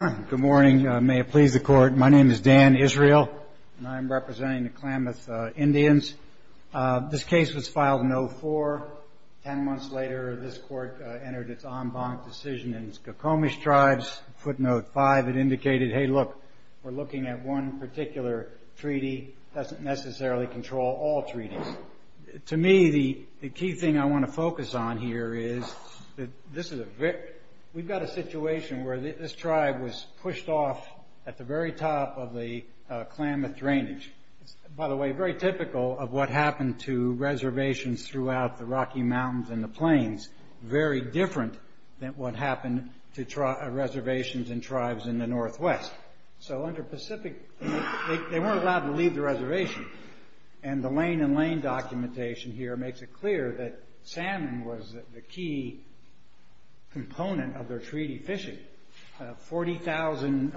Good morning. May it please the Court. My name is Dan Israel, and I'm representing the Klamath Indians. This case was filed in 2004. Ten months later, this Court entered its en banc decision in Skokomish Tribes. Footnote 5, it indicated, hey, look, we're looking at one particular treaty. It doesn't necessarily control all treaties. To me, the key thing I want to focus on here is that we've got a situation where this tribe was pushed off at the very top of the Klamath drainage. By the way, very typical of what happened to reservations throughout the Rocky Mountains and the plains, very different than what happened to reservations and tribes in the Northwest. They weren't allowed to leave the reservation, and the Lane and Lane documentation here makes it clear that salmon was the key component of their treaty fishing. 40,000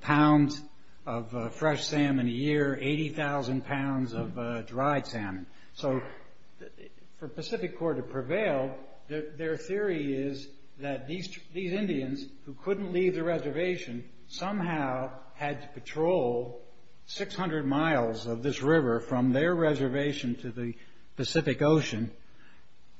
pounds of fresh salmon a year, 80,000 pounds of dried salmon. For Pacific Corp to prevail, their theory is that these Indians who couldn't leave the reservation somehow had to patrol 600 miles of this river from their reservation to the Pacific Ocean,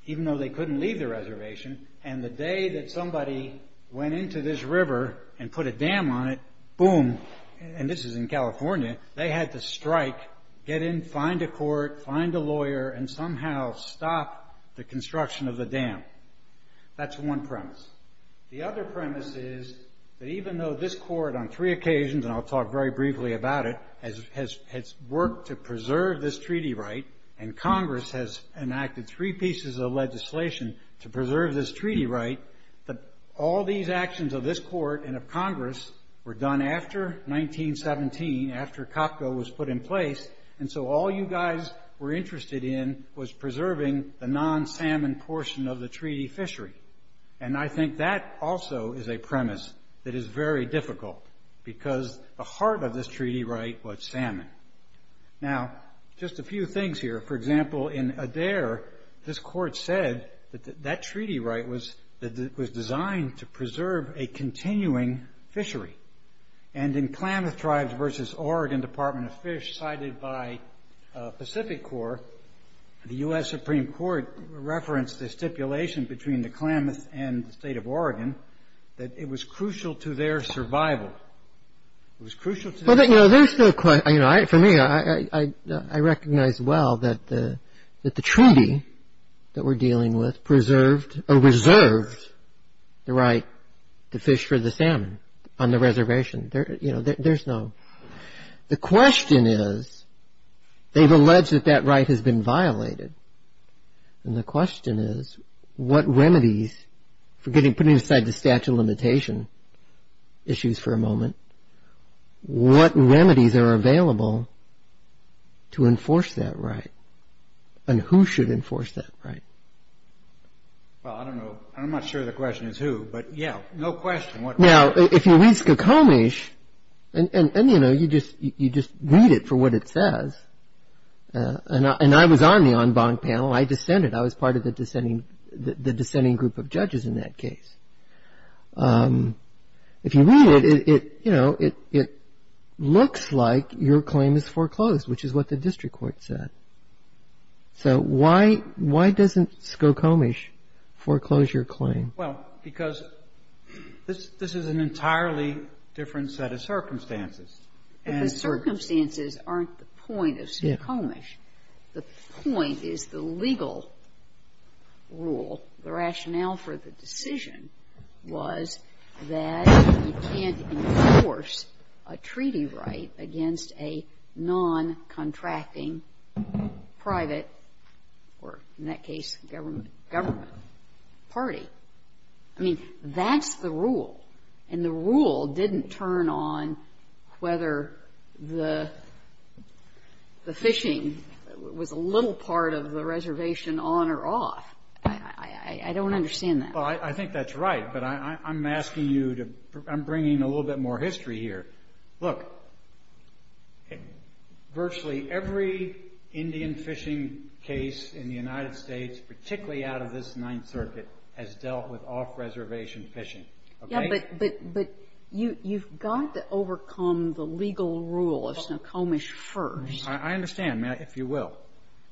even though they couldn't leave the reservation. The day that somebody went into this river and put a dam on it, boom, and this is in California, they had to strike, get in, find a court, find a lawyer, and somehow stop the construction of the dam. That's one premise. The other premise is that even though this court on three occasions, and I'll talk very briefly about it, has worked to preserve this treaty right, and Congress has enacted three pieces of legislation to preserve this treaty right, all these actions of this court and of Congress were done after 1917, after COPCO was put in place, and so all you guys were interested in was preserving the non-salmon portion of the treaty fishery. I think that also is a premise that is very difficult, because the heart of this treaty right was salmon. Now, just a few things here. For example, in Adair, this court said that that treaty right was designed to preserve a continuing fishery, and in Klamath Tribes v. Oregon Department of Fish, cited by Pacific Corp, the U.S. Supreme Court referenced the stipulation between the Klamath and the state of Oregon that it was crucial to their survival. It was crucial to their survival. For me, I recognize well that the treaty that we're dealing with preserved or reserved the right to fish for the salmon on the reservation. There's no... The question is, they've alleged that that right has been violated, and the question is, what remedies, putting aside the statute of limitation issues for a moment, what remedies are available to enforce that right, and who should enforce that right? Well, I don't know. I'm not sure the question is who, but yeah, no question. Now, if you read Skokomish, and you just read it for what it says, and I was on the en banc panel. I dissented. I was part of the dissenting group of judges in that case. If you read it, it looks like your claim is foreclosed, which is what the district court said. So why doesn't Skokomish foreclose your claim? Well, because this is an entirely different set of circumstances. But the circumstances aren't the point of Skokomish. The point is the legal rule, the rationale for the decision was that you can't enforce a treaty right against a non-contracting private or, in that case, government party. I mean, that's the rule, and the rule didn't turn on whether the fishing was a little part of the reservation on or off. I don't understand that. Well, I think that's right, but I'm asking you to – I'm bringing a little bit more history here. Look, virtually every Indian fishing case in the United States, particularly out of this Ninth Circuit, has dealt with off-reservation fishing. Yeah, but you've got to overcome the legal rule of Skokomish first. I understand, if you will.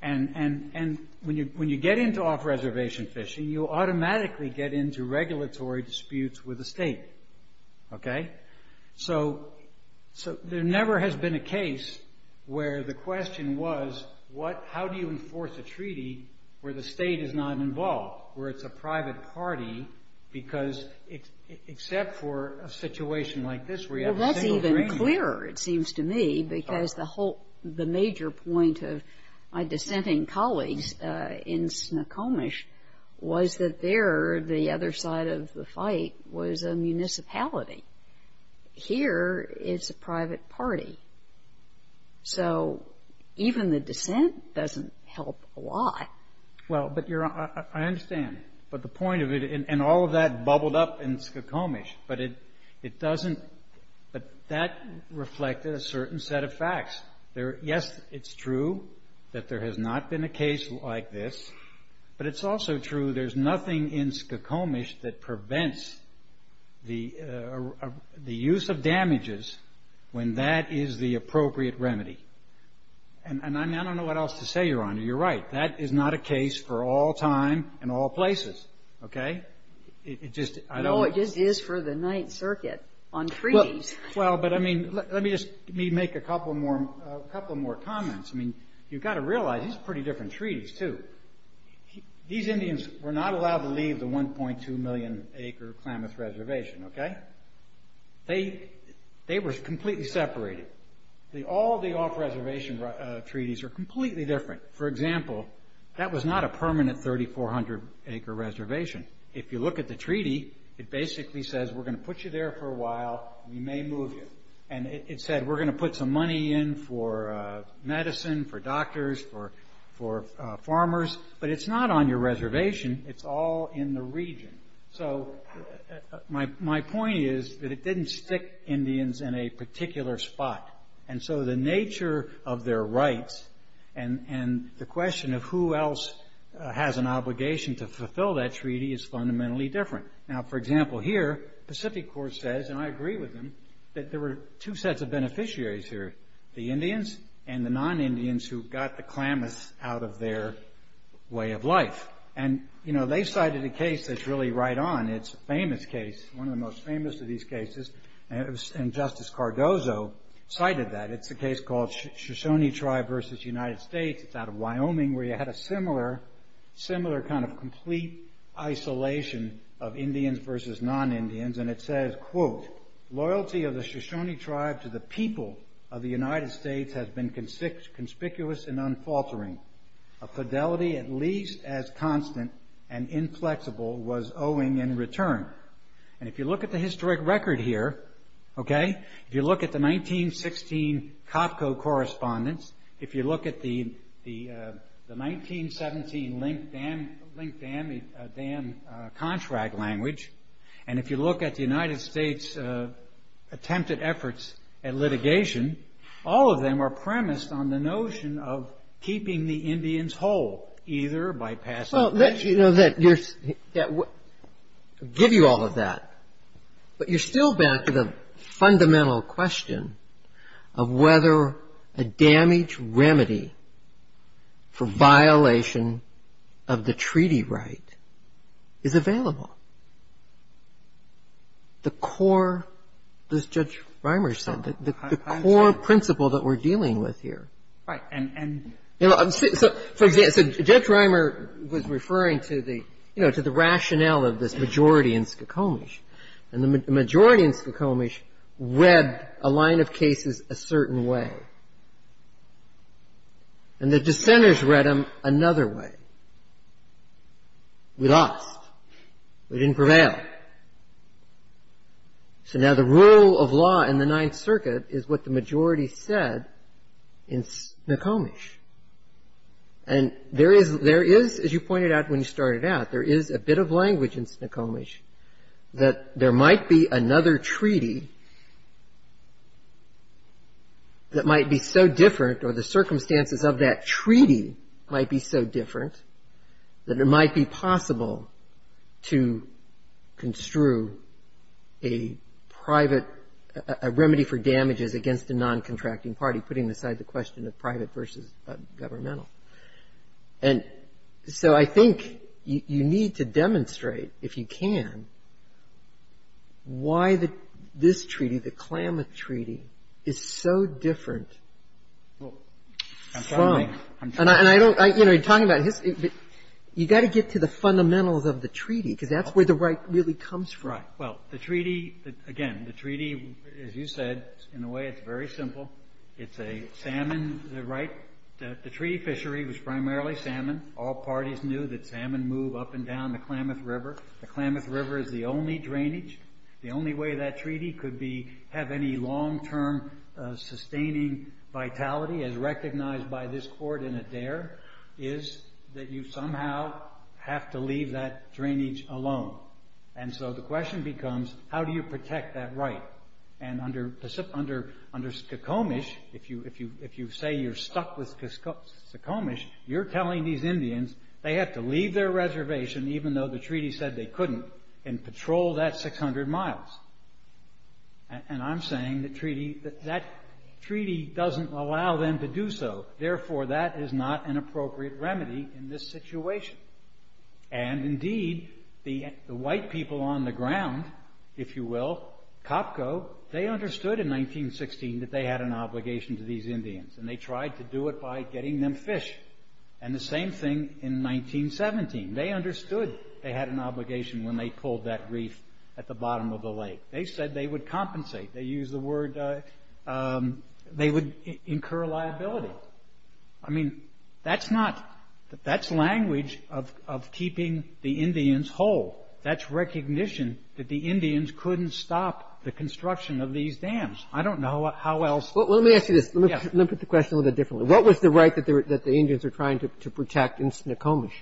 And when you get into off-reservation fishing, you automatically get into regulatory disputes with the state, okay? So there never has been a case where the question was, how do you enforce a treaty where the state is not involved, where it's a private party, except for a situation like this where you have a single agreement. It's clearer, it seems to me, because the whole – the major point of my dissenting colleagues in Skokomish was that there, the other side of the fight was a municipality. Here, it's a private party. So even the dissent doesn't help a lot. Well, but you're – I understand. But the point of it – and all of that bubbled up in Skokomish. But it doesn't – but that reflected a certain set of facts. Yes, it's true that there has not been a case like this, but it's also true there's nothing in Skokomish that prevents the use of damages when that is the appropriate remedy. And I don't know what else to say, Your Honor. You're right. That is not a case for all time and all places, okay? It just – I don't know. It just is for the Ninth Circuit on treaties. Well, but I mean, let me just make a couple more comments. I mean, you've got to realize these are pretty different treaties, too. These Indians were not allowed to leave the 1.2 million acre Klamath Reservation, okay? They were completely separated. All the off-reservation treaties are completely different. For example, that was not a permanent 3,400 acre reservation. If you look at the treaty, it basically says we're going to put you there for a while. We may move you. And it said we're going to put some money in for medicine, for doctors, for farmers. But it's not on your reservation. It's all in the region. So my point is that it didn't stick Indians in a particular spot. And so the nature of their rights and the question of who else has an obligation to is fundamentally different. Now, for example, here Pacific Corps says, and I agree with them, that there were two sets of beneficiaries here, the Indians and the non-Indians who got the Klamath out of their way of life. And, you know, they cited a case that's really right on. It's a famous case, one of the most famous of these cases. And Justice Cardozo cited that. It's a case called Shoshone Tribe v. United States. It's out of Wyoming where you had a similar kind of complete isolation of Indians versus non-Indians. And it says, quote, Loyalty of the Shoshone Tribe to the people of the United States has been conspicuous and unfaltering. A fidelity at least as constant and inflexible was owing in return. And if you look at the historic record here, okay, if you look at the 1916 COPCO correspondence, if you look at the 1917 Link Dam contract language, and if you look at the United States attempted efforts at litigation, all of them are premised on the notion of keeping the Indians whole, either by passing the- Well, that, you know, that gives you all of that. But you're still back to the fundamental question of whether a damage remedy for violation of the treaty right is available. The core, as Judge Reimer said, the core principle that we're dealing with here. Right. For example, Judge Reimer was referring to the, you know, to the rationale of this majority in Skokomish. And the majority in Skokomish read a line of cases a certain way. And the dissenters read them another way. We lost. We didn't prevail. Right. So now the rule of law in the Ninth Circuit is what the majority said in Skokomish. And there is, as you pointed out when you started out, there is a bit of language in Skokomish that there might be another treaty that might be so different or the circumstances of that treaty might be so different that it might be possible to construe a private, a remedy for damages against a non-contracting party, putting aside the question of private versus governmental. And so I think you need to demonstrate, if you can, why this treaty, the Klamath Treaty, is so different from. And I don't, you know, you're talking about history, but you've got to get to the fundamentals of the treaty, because that's where the right really comes from. Right. Well, the treaty, again, the treaty, as you said, in a way it's very simple. It's a salmon right. The treaty fishery was primarily salmon. All parties knew that salmon move up and down the Klamath River. The Klamath River is the only drainage. The only way that treaty could be, have any long-term sustaining vitality as recognized by this court in Adair is that you somehow have to leave that drainage alone. And so the question becomes, how do you protect that right? And under Skokomish, if you say you're stuck with Skokomish, you're telling these Indians they have to leave their reservation, even though the treaty said they couldn't, and patrol that 600 miles. And I'm saying that treaty, that treaty doesn't allow them to do so. Therefore, that is not an appropriate remedy in this situation. And indeed, the white people on the ground, if you will, Copco, they understood in 1916 that they had an obligation to these Indians, and they tried to do it by getting them fish. And the same thing in 1917. They understood they had an obligation when they pulled that reef at the bottom of the lake. They said they would compensate. They used the word, they would incur liability. I mean, that's not, that's language of keeping the Indians whole. That's recognition that the Indians couldn't stop the construction of these dams. I don't know how else. Let me ask you this. Let me put the question a little bit differently. What was the right that the Indians were trying to protect in Skokomish?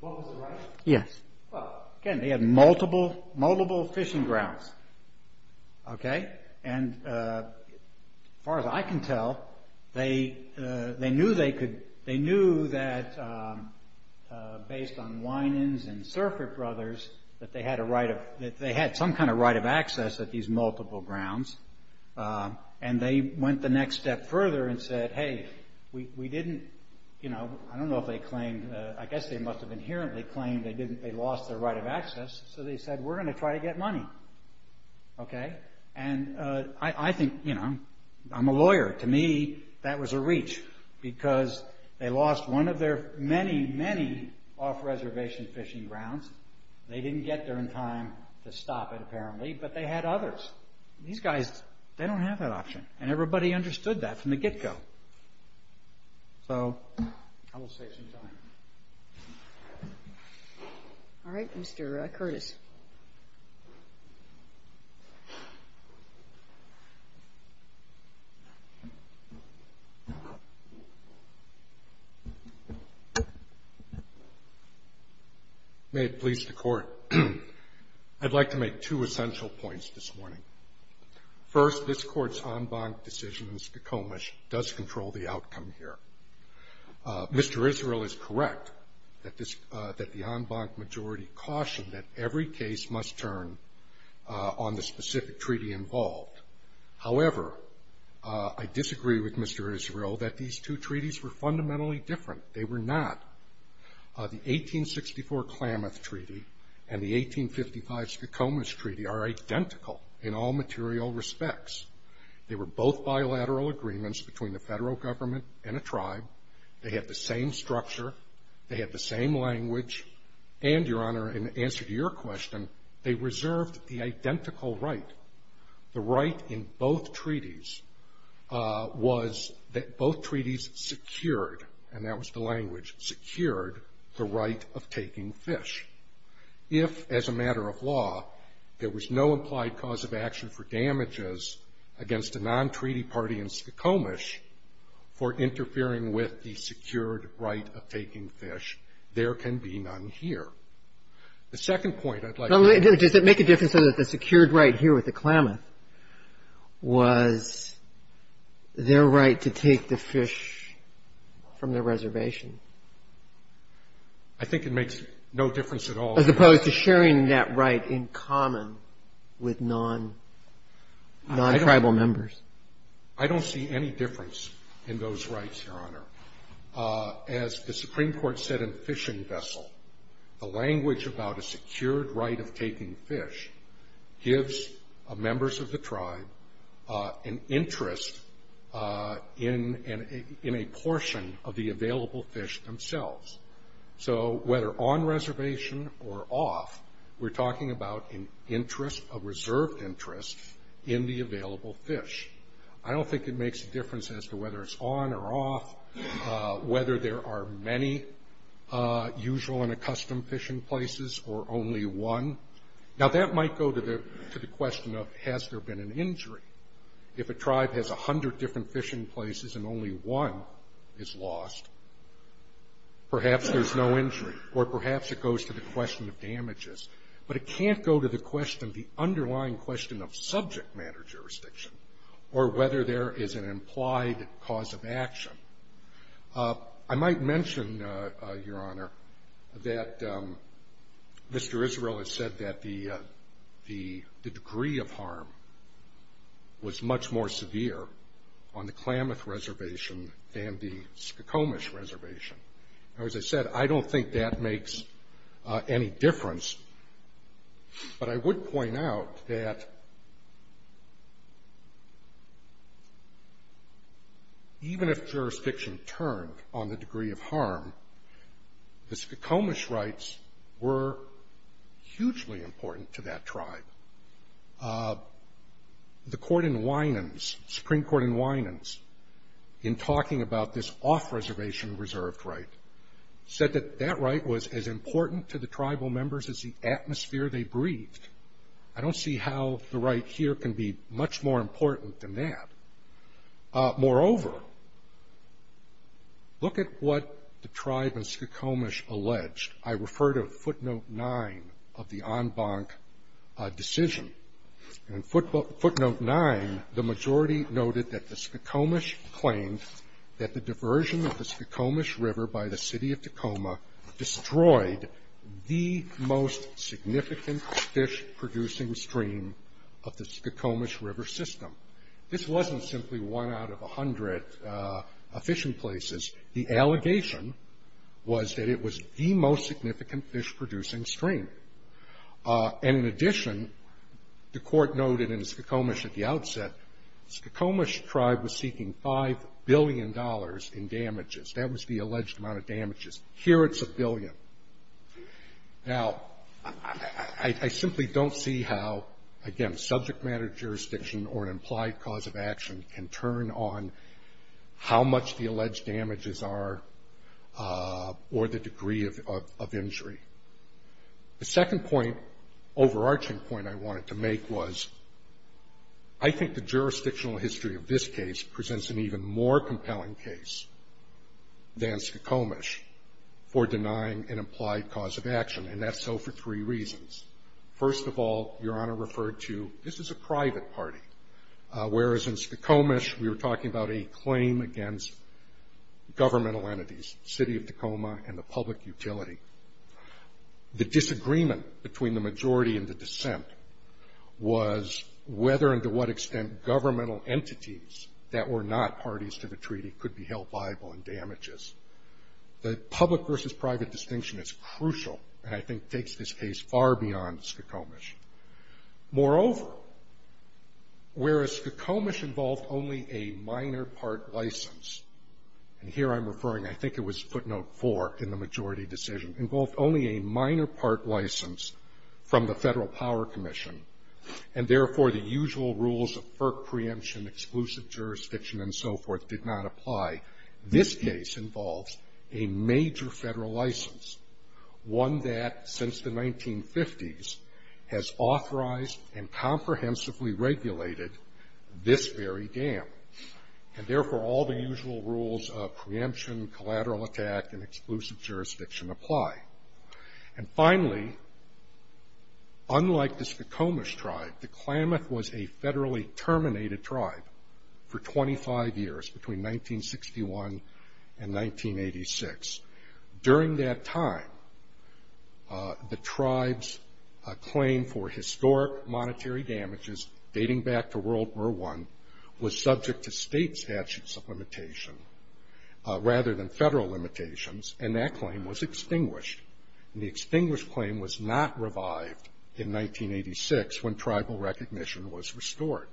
What was the right? Yes. Well, again, they had multiple fishing grounds. Okay? And as far as I can tell, they knew they could, they knew that based on Winans and Surfr brothers, that they had some kind of right of access at these multiple grounds. And they went the next step further and said, hey, we didn't, you know, I don't know if they claimed, I guess they must have inherently claimed they lost their right of access. So they said, we're going to try to get money. Okay? And I think, you know, I'm a lawyer. To me, that was a reach because they lost one of their many, many off-reservation fishing grounds. They didn't get there in time to stop it, apparently, but they had others. These guys, they don't have that option. And everybody understood that from the get-go. So I will save some time. All right. Mr. Curtis. May it please the Court. I'd like to make two essential points this morning. First, this Court's en banc decision in Skokomish does control the outcome here. Mr. Israel is correct that the en banc majority cautioned that every case must turn on the specific treaty involved. However, I disagree with Mr. Israel that these two treaties were fundamentally different. They were not. The 1864 Klamath Treaty and the 1855 Skokomish Treaty are identical in all material respects. They were both bilateral agreements between the federal government and a tribe. They had the same structure. They had the same language. And, Your Honor, in answer to your question, they reserved the identical right. The right in both treaties was that both treaties secured, and that was the language, secured the right of taking fish. If, as a matter of law, there was no implied cause of action for damages against a non-treaty party in Skokomish for interfering with the secured right of taking fish, there can be none here. The second point I'd like to make. Does it make a difference that the secured right here with the Klamath was their right to take the fish from the reservation? I think it makes no difference at all. As opposed to sharing that right in common with non-tribal members. I don't see any difference in those rights, Your Honor. As the Supreme Court said in Fishing Vessel, the language about a secured right of taking fish gives members of the tribe an interest in a portion of the available fish themselves. So, whether on reservation or off, we're talking about an interest, a reserved interest in the available fish. I don't think it makes a difference as to whether it's on or off, whether there are many usual and accustomed fishing places or only one. Now, that might go to the question of has there been an injury. If a tribe has 100 different fishing places and only one is lost, perhaps there's no injury or perhaps it goes to the question of damages. But it can't go to the question, the underlying question of subject matter jurisdiction or whether there is an implied cause of action. I might mention, Your Honor, that Mr. Israel has said that the degree of harm was much more severe on the Klamath Reservation than the Skokomish Reservation. Now, as I said, I don't think that makes any difference, but I would point out that even if jurisdiction turned on the degree of harm, the Skokomish rights were hugely important to that tribe. The Supreme Court in Winans, in talking about this off-reservation reserved right, said that that right was as important to the tribal members as the atmosphere they breathed. I don't see how the right here can be much more important than that. Moreover, look at what the tribe in Skokomish alleged. I refer to footnote nine of the en banc decision. In footnote nine, the majority noted that the Skokomish claimed that the diversion of the Skokomish River by the city of Tacoma destroyed the most significant fish-producing stream of the Skokomish River system. This wasn't simply one out of a hundred fishing places. The allegation was that it was the most significant fish-producing stream. And in addition, the court noted in Skokomish at the outset, Skokomish tribe was seeking $5 billion in damages. That was the alleged amount of damages. Here it's a billion. Now, I simply don't see how, again, subject matter jurisdiction or an implied cause of action can turn on how much the alleged damages are or the degree of injury. The second point, overarching point I wanted to make was I think the jurisdictional history of this case presents an even more compelling case than Skokomish for denying an implied cause of action, and that's so for three reasons. First of all, Your Honor referred to this is a private party. Whereas in Skokomish, we were talking about a claim against governmental entities, city of Tacoma and the public utility. The disagreement between the majority and the dissent was whether and to what extent governmental entities that were not parties to the treaty could be held liable in damages. The public versus private distinction is crucial and I think takes this case far beyond Skokomish. Moreover, whereas Skokomish involved only a minor part license, and here I'm referring, I think it was footnote four in the majority decision, involved only a minor part license from the Federal Power Commission, and therefore the usual rules of FERC preemption, exclusive jurisdiction, and so forth did not apply, this case involves a major federal license, one that since the 1950s has authorized and comprehensively regulated this very dam, and therefore all the usual rules of preemption, collateral attack, and exclusive jurisdiction apply. And finally, unlike the Skokomish tribe, the Klamath was a federally terminated tribe for 25 years between 1961 and 1986. During that time, the tribe's claim for historic monetary damages dating back to World War I was subject to state statutes of limitation rather than federal limitations, and that claim was extinguished. And the extinguished claim was not revived in 1986 when tribal recognition was restored.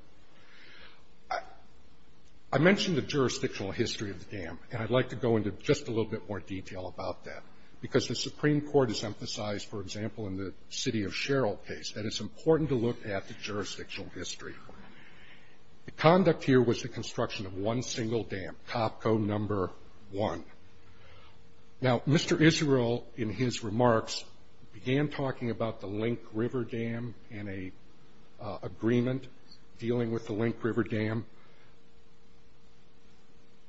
I mentioned the jurisdictional history of the dam, and I'd like to go into just a little bit more detail about that because the Supreme Court has emphasized, for example, in the City of Sherald case that it's important to look at the jurisdictional history. The conduct here was the construction of one single dam, Topco No. 1. Now, Mr. Israel, in his remarks, began talking about the Link River Dam and an agreement dealing with the Link River Dam.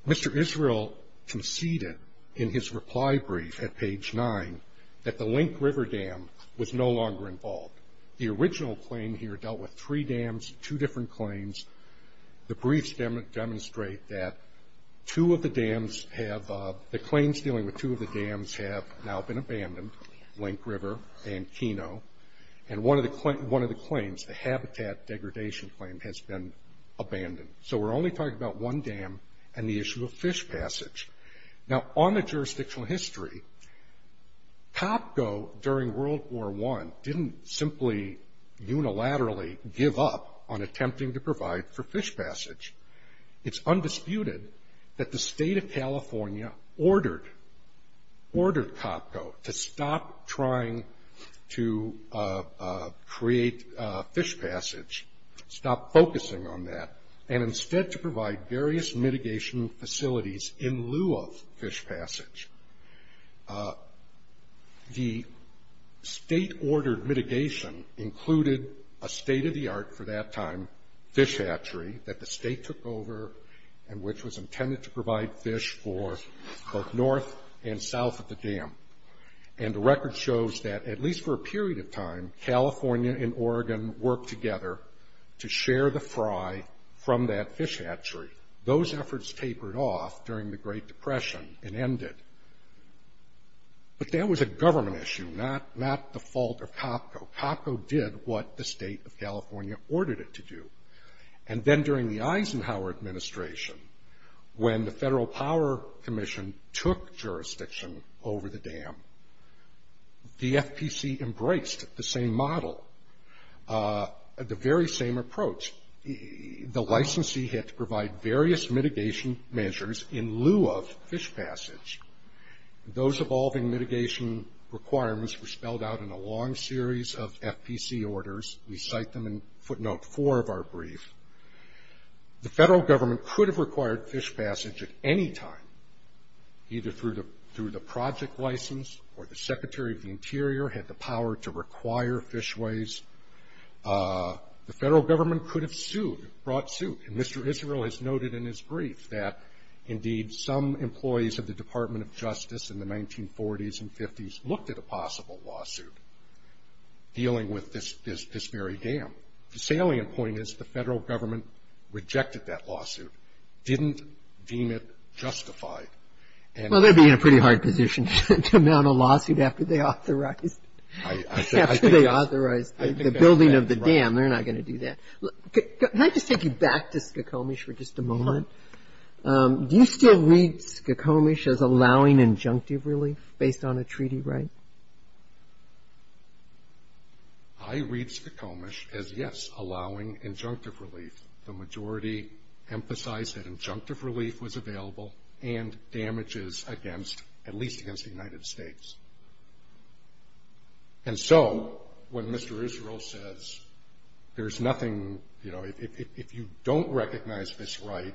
Mr. Israel conceded in his reply brief at page 9 that the Link River Dam was no longer involved. The original claim here dealt with three dams, two different claims. The briefs demonstrate that two of the dams have the claims dealing with two of the dams have now been abandoned, Link River and Keno, and one of the claims, the habitat degradation claim, has been abandoned. So we're only talking about one dam and the issue of fish passage. Now, on the jurisdictional history, Topco, during World War I, didn't simply unilaterally give up on attempting to provide for fish passage. It's undisputed that the State of California ordered Topco to stop trying to create fish passage, stop focusing on that, and instead to provide various mitigation facilities in lieu of fish passage. The State-ordered mitigation included a state-of-the-art, for that time, fish hatchery that the State took over and which was intended to provide fish for both north and south of the dam. And the record shows that, at least for a period of time, California and Oregon worked together to share the fry from that fish hatchery. Those efforts tapered off during the Great Depression and ended. But that was a government issue, not the fault of Topco. Topco did what the State of California ordered it to do. And then during the Eisenhower administration, when the Federal Power Commission took jurisdiction over the dam, the FPC embraced the same model, the very same approach. The licensee had to provide various mitigation measures in lieu of fish passage. Those evolving mitigation requirements were spelled out in a long series of FPC orders. We cite them in footnote four of our brief. The Federal Government could have required fish passage at any time, either through the project license or the Secretary of the Interior had the The Federal Government could have sued, brought suit. And Mr. Israel has noted in his brief that, indeed, some employees of the Department of Justice in the 1940s and 50s looked at a possible lawsuit dealing with this very dam. The salient point is the Federal Government rejected that lawsuit, didn't deem it justified. Well, they'd be in a pretty hard position to mount a lawsuit after they authorized the building of the dam. They're not going to do that. Can I just take you back to Skokomish for just a moment? Do you still read Skokomish as allowing injunctive relief based on a treaty right? I read Skokomish as, yes, allowing injunctive relief. The majority emphasized that injunctive relief was available and damages against, at least against the United States. And so when Mr. Israel says there's nothing, you know, if you don't recognize this right,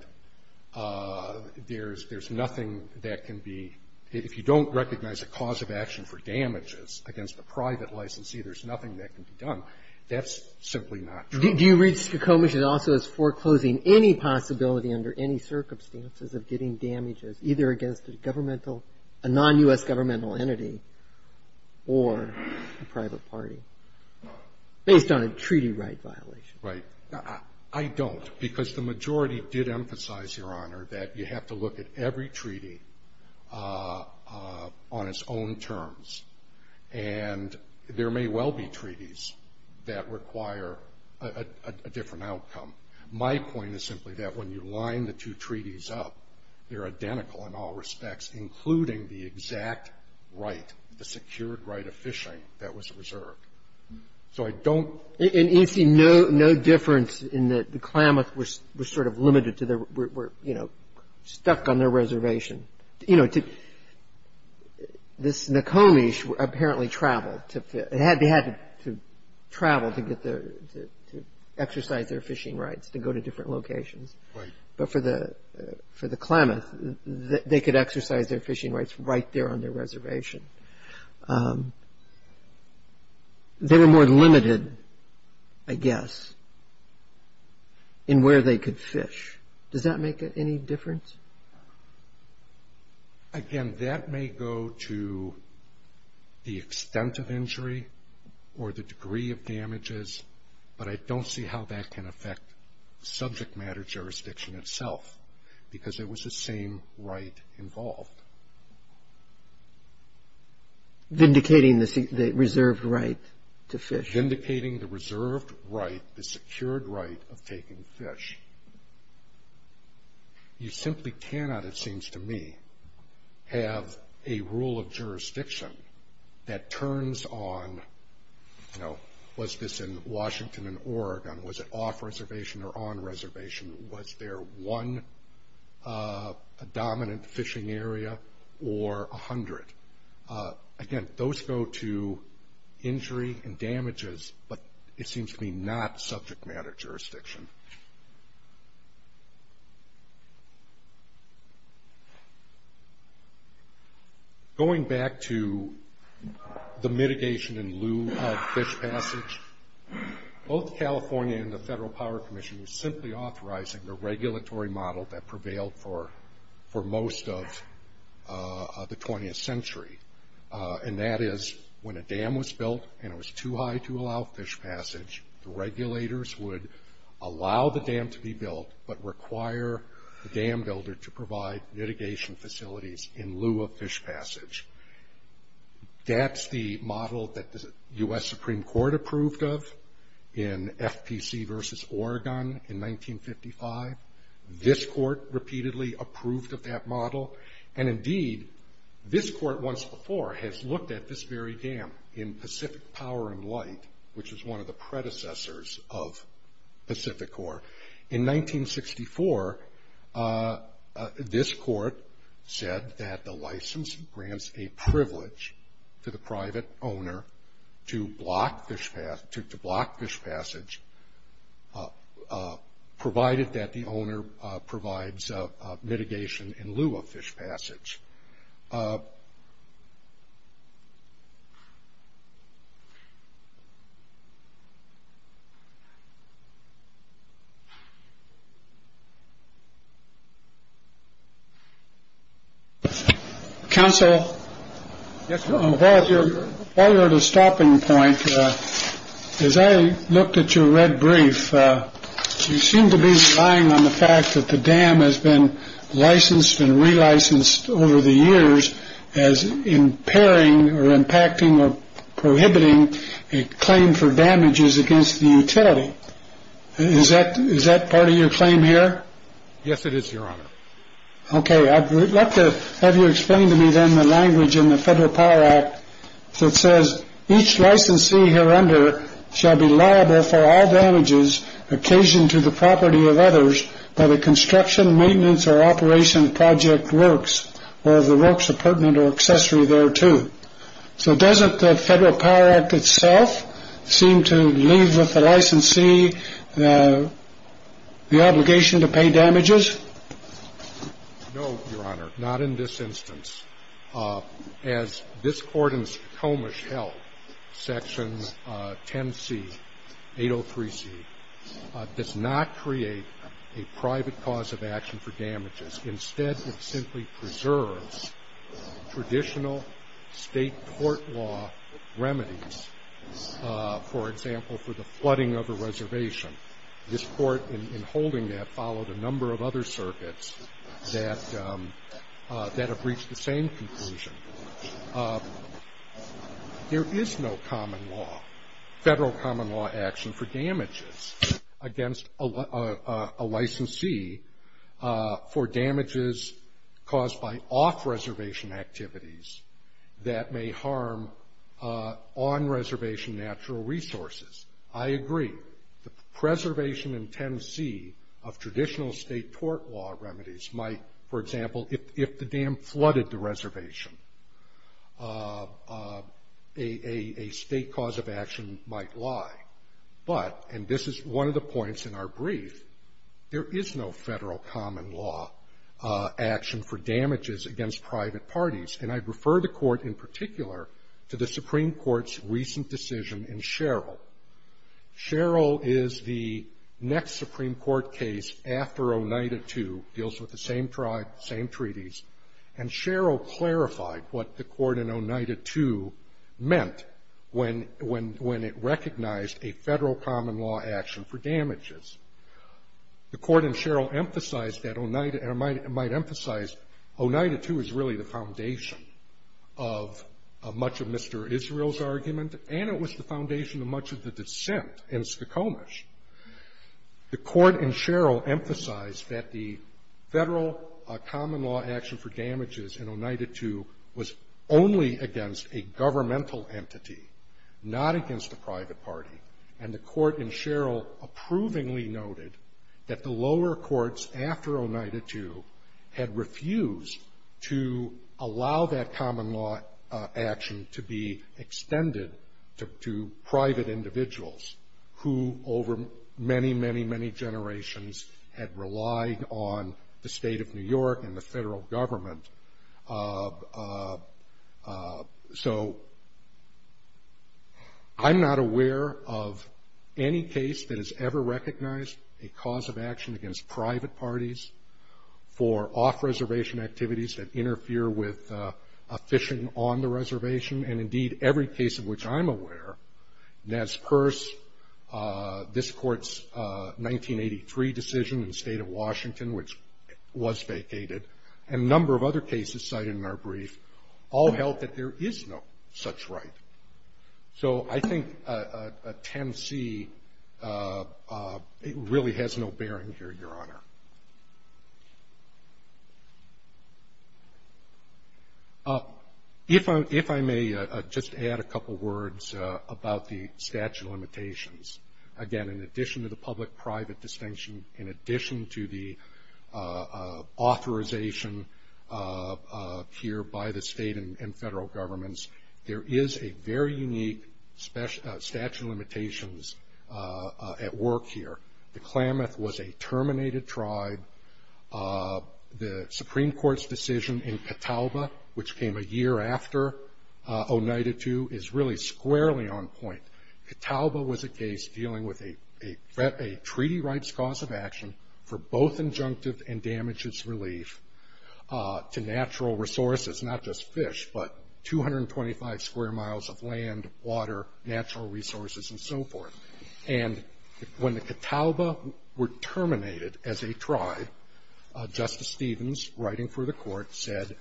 there's nothing that can be, if you don't recognize a cause of action for damages against a private licensee, there's nothing that can be done, that's simply not true. Do you read Skokomish also as foreclosing any possibility under any circumstances of getting damages either against a governmental, a non-U.S. governmental entity or a private party based on a treaty right violation? Right. I don't because the majority did emphasize, Your Honor, that you have to look at every treaty on its own terms. And there may well be treaties that require a different outcome. My point is simply that when you line the two treaties up, they're identical in all respects, including the exact right, the secured right of fishing that was reserved. So I don't. And you see no difference in that the Klamath was sort of limited to their, were, you know, stuck on their reservation. You know, this Nekomish apparently traveled to, they had to travel to get their, exercise their fishing rights to go to different locations. Right. But for the Klamath, they could exercise their fishing rights right there on their reservation. They were more limited, I guess, in where they could fish. Does that make any difference? Again, that may go to the extent of injury or the degree of damages, but I don't see how that can affect subject matter jurisdiction itself, because there was the same right involved. Vindicating the reserved right to fish. Vindicating the reserved right, the secured right of taking fish. You simply cannot, it seems to me, have a rule of jurisdiction that turns on, you know, was this in Washington and Oregon? Was it off reservation or on reservation? Was there one dominant fishing area or a hundred? Again, those go to injury and damages, but it seems to me not subject matter jurisdiction. Going back to the mitigation in lieu of fish passage, both California and the Federal Power Commission was simply authorizing the regulatory model that prevailed for most of the 20th century. And that is when a dam was built and it was too high to allow fish passage, the regulators would allow the dam to be built, but require the dam builder to provide mitigation facilities in lieu of fish passage. That's the model that the U.S. Supreme Court approved of in FPC versus Oregon in 1955. This court repeatedly approved of that model, and indeed this court once before has looked at this very dam in Pacific Power and Light, which is one of the predecessors of Pacific Core. In 1964, this court said that the license grants a privilege to the private owner to block fish passage, provided that the owner provides mitigation in lieu of fish passage. Counsel? Yes, sir. While you're at a stopping point, as I looked at your red brief, you seem to be relying on the fact that the dam has been licensed and relicensed over the years as impairing or impacting or prohibiting a claim for damages against the utility. Is that part of your claim here? Yes, it is, Your Honor. Okay, I'd like to have you explain to me then the language in the Federal Power Act itself. Does the Federal Power Act itself seem to leave with the licensee the obligation to pay damages? No, Your Honor, not in this instance. As this court in Comish held, Section 10C, 803C, does not create a private cause of action for damages. Instead, it simply preserves traditional state court law remedies, for example, for the flooding of a reservation. This court, in holding that, followed a number of other circuits that have reached the same conclusion. There is no common law, federal common law action, for damages against a licensee for damages caused by off-reservation activities that may harm on-reservation natural resources. I agree that the preservation in 10C of traditional state court law remedies might, for example, if the dam flooded the reservation, a state cause of action might lie. But, and this is one of the points in our brief, there is no federal common law action for damages against private parties. And I'd refer the Court, in particular, to the Supreme Court's recent decision in Sherrill. Sherrill is the next Supreme Court case after Oneida II, deals with the same treaties. And Sherrill clarified what the Court in Oneida II meant when it recognized a federal common law action for damages. The Court in Sherrill emphasized that Oneida, and I might emphasize Oneida II is really the foundation of much of Mr. Israel's argument, and it was the foundation of much of the dissent in Skokomish. The Court in Sherrill emphasized that the federal common law action for damages in Oneida II was only against a governmental entity, not against a private party. And the Court in Sherrill approvingly noted that the lower courts after Oneida II had refused to allow that common law action to be extended to private individuals, who over many, many, many generations had relied on the state of New York and the federal government. So I'm not aware of any case that has ever recognized a cause of action against private parties for off-reservation activities that interfere with a fishing on the reservation. And indeed, every case of which I'm aware, that's purse, this court's 1983 decision in the state of Washington, which was vacated. And a number of other cases cited in our brief, all held that there is no such right. So I think 10C really has no bearing here, Your Honor. If I may just add a couple words about the statute of limitations. Again, in addition to the public-private distinction, in addition to the authorization here by the state and federal governments, there is a very unique statute of limitations at work here. The Klamath was a terminated tribe. The Supreme Court's decision in Catawba, which came a year after Oneida II, is really squarely on point. Catawba was a case dealing with a treaty rights cause of action for both injunctive and damages relief to natural resources, not just fish, but 225 square miles of land, water, natural resources, and so forth. And when the Catawba were terminated as a tribe, Justice Stevens, writing for the court, said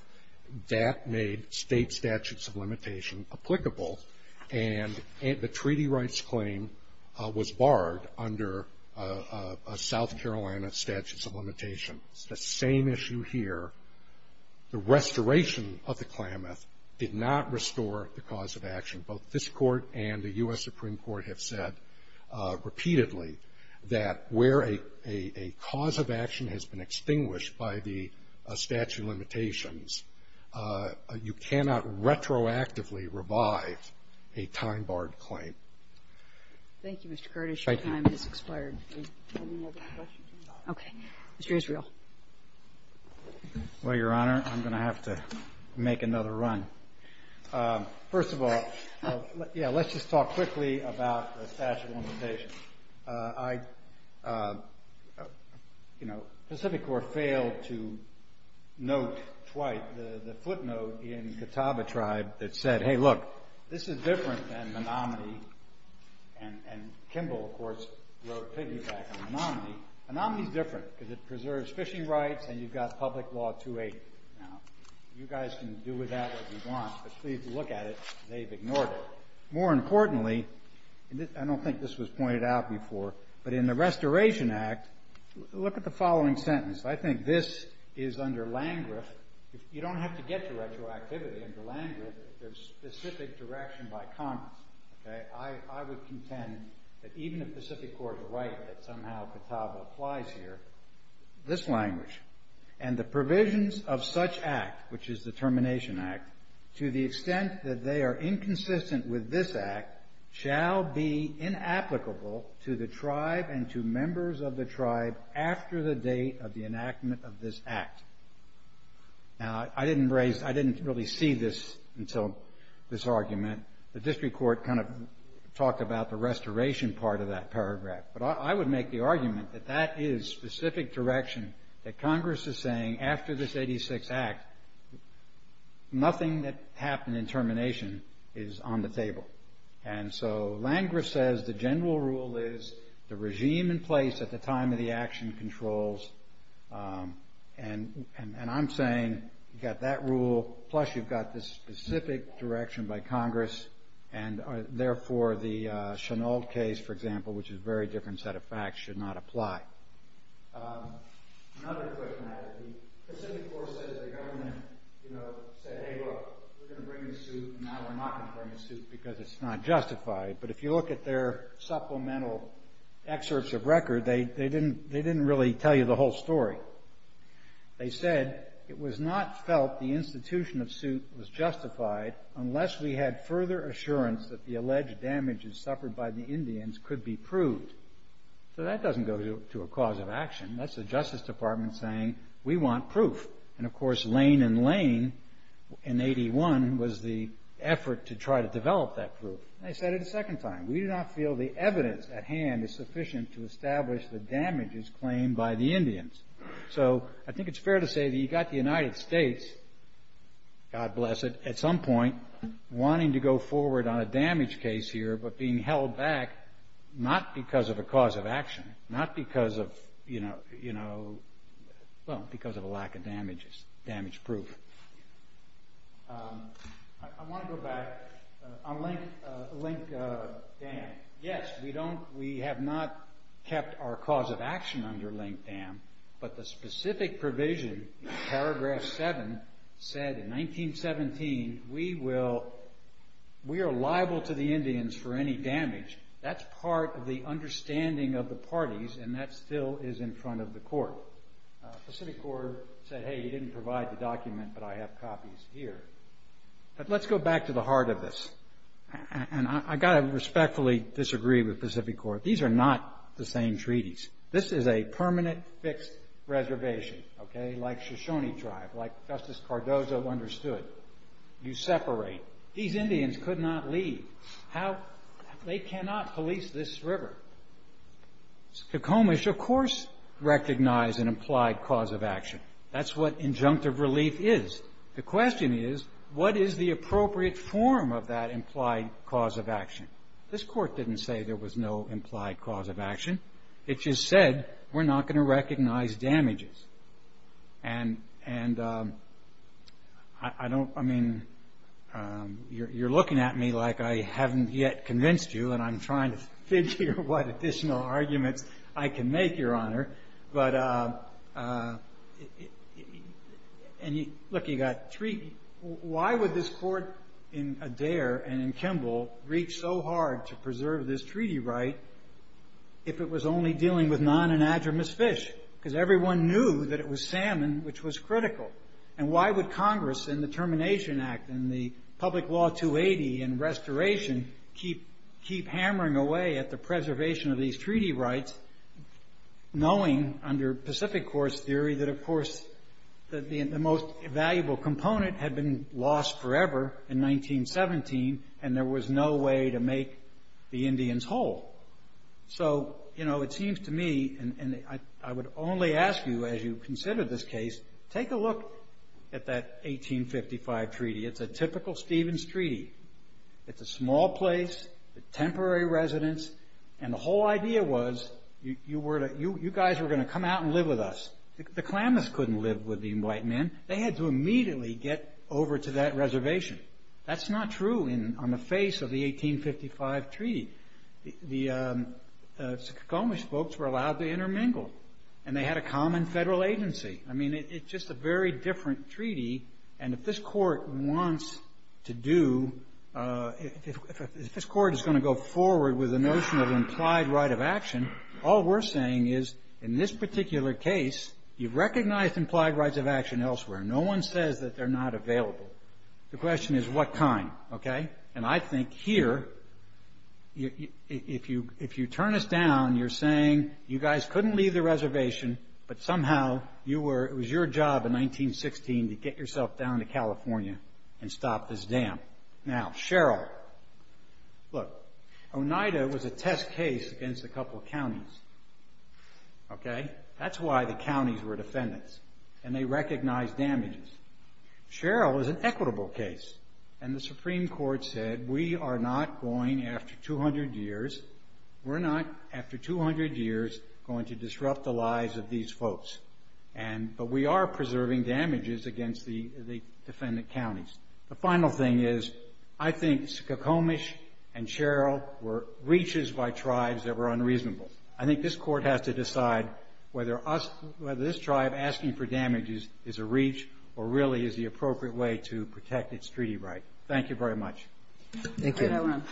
that made state statutes of limitation applicable. And the treaty rights claim was barred under South Carolina statutes of limitation. It's the same issue here. The restoration of the Klamath did not restore the cause of action. Both this Court and the U.S. Supreme Court have said repeatedly that where a cause of action has been extinguished by the statute of limitations, you cannot retroactively revive a time-barred claim. Kagan. Thank you, Mr. Curtis. Your time has expired. Okay. Mr. Israel. Well, Your Honor, I'm going to have to make another run. First of all, yeah, let's just talk quickly about the statute of limitations. I, you know, Pacific Corps failed to note twice the footnote in Catawba tribe that said, hey, look, this is different than Menominee. And Kimball, of course, wrote a piggyback on Menominee. Menominee is different because it preserves fishing rights, and you've got public law 280. Now, you guys can do with that what you want, but please look at it. They've ignored it. More importantly, I don't think this was pointed out before, but in the Restoration Act, look at the following sentence. I think this is under Landgraf. You don't have to get to retroactivity under Landgraf. There's specific direction by comments, okay? I would contend that even if Pacific Corps is right, that somehow Catawba applies here, this language, and the provisions of such act, which is the Termination Act, to the extent that they are inconsistent with this act shall be inapplicable to the tribe and to members of the tribe after the date of the enactment of this act. Now, I didn't really see this until this argument. The district court kind of talked about the restoration part of that paragraph, but I would make the argument that that is specific direction that Congress is saying after this 86 Act, nothing that happened in termination is on the table. And so Landgraf says the general rule is the regime in place at the time of the action controls, and I'm saying you've got that rule, plus you've got this specific direction by Congress, and therefore the Chenault case, for example, which is a very different set of facts, should not apply. Another question I have is the Pacific Corps says the government said, hey, look, we're going to bring the suit, and now we're not going to bring the suit because it's not justified. But if you look at their supplemental excerpts of record, they didn't really tell you the whole story. They said it was not felt the institution of suit was justified unless we had further assurance that the alleged damages suffered by the Indians could be proved. So that doesn't go to a cause of action. That's the Justice Department saying we want proof. And, of course, Lane and Lane in 81 was the effort to try to develop that proof. They said it a second time. We do not feel the evidence at hand is sufficient to establish the damages claimed by the Indians. So I think it's fair to say that you've got the United States, God bless it, at some point wanting to go forward on a damage case here, but being held back not because of a cause of action, not because of, you know, well, because of a lack of damages, damage proof. I want to go back on Link Dam. Yes, we have not kept our cause of action under Link Dam, but the specific provision in paragraph 7 said in 1917, we are liable to the Indians for any damage. That's part of the understanding of the parties and that still is in front of the court. Pacific Corp said, hey, you didn't provide the document, but I have copies here. But let's go back to the heart of this. And I've got to respectfully disagree with Pacific Corp. These are not the same treaties. This is a permanent fixed reservation, okay, like Shoshone tribe, like Justice Cardozo understood. You separate. How, they cannot police this river. Tacoma should, of course, recognize an implied cause of action. That's what injunctive relief is. The question is, what is the appropriate form of that implied cause of action? This court didn't say there was no implied cause of action. It just said, we're not going to recognize damages. And I don't, I mean, you're looking at me like I haven't yet convinced you, and I'm trying to figure what additional arguments I can make, Your Honor. But, look, you've got treaty. Why would this court in Adair and in Kimball reach so hard to preserve this treaty right if it was only dealing with non-anadromous fish? Because everyone knew that it was salmon, which was critical. And why would Congress in the Termination Act and the public law 280 and restoration keep hammering away at the preservation of these treaty rights, knowing under Pacific course theory that, of course, the most valuable component had been lost forever in 1917, and there was no way to make the Indians whole. So, you know, it seems to me, and I would only ask you as you consider this case, take a look at that 1855 treaty. It's a typical Stevens treaty. It's a small place, temporary residence, and the whole idea was, you guys were going to come out and live with us. The Klamaths couldn't live with the white men. They had to immediately get over to that reservation. That's not true on the face of the 1855 treaty. The Suquamish folks were allowed to intermingle, and they had a common federal agency. I mean, it's just a very different treaty, and if this Court wants to do ‑‑ if this Court is going to go forward with the notion of implied right of action, all we're saying is, in this particular case, you've recognized implied rights of action elsewhere. No one says that they're not available. The question is what kind, okay? And I think here, if you turn us down, you're saying you guys couldn't leave the reservation, but somehow it was your job in 1916 to get yourself down to California and stop this dam. Now, Sherrill. Look, Oneida was a test case against a couple of counties, okay? That's why the counties were defendants, and they recognized damages. Sherrill is an equitable case, and the Supreme Court said, We're not, after 200 years, going to disrupt the lives of these folks, but we are preserving damages against the defendant counties. The final thing is I think Suquamish and Sherrill were reaches by tribes that were unreasonable. I think this Court has to decide whether this tribe asking for damages is a reach or really is the appropriate way to protect its treaty right. Thank you very much. Thank you.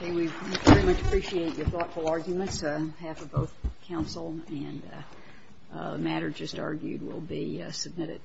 We very much appreciate your thoughtful arguments. Half of both counsel and the matter just argued will be submitted.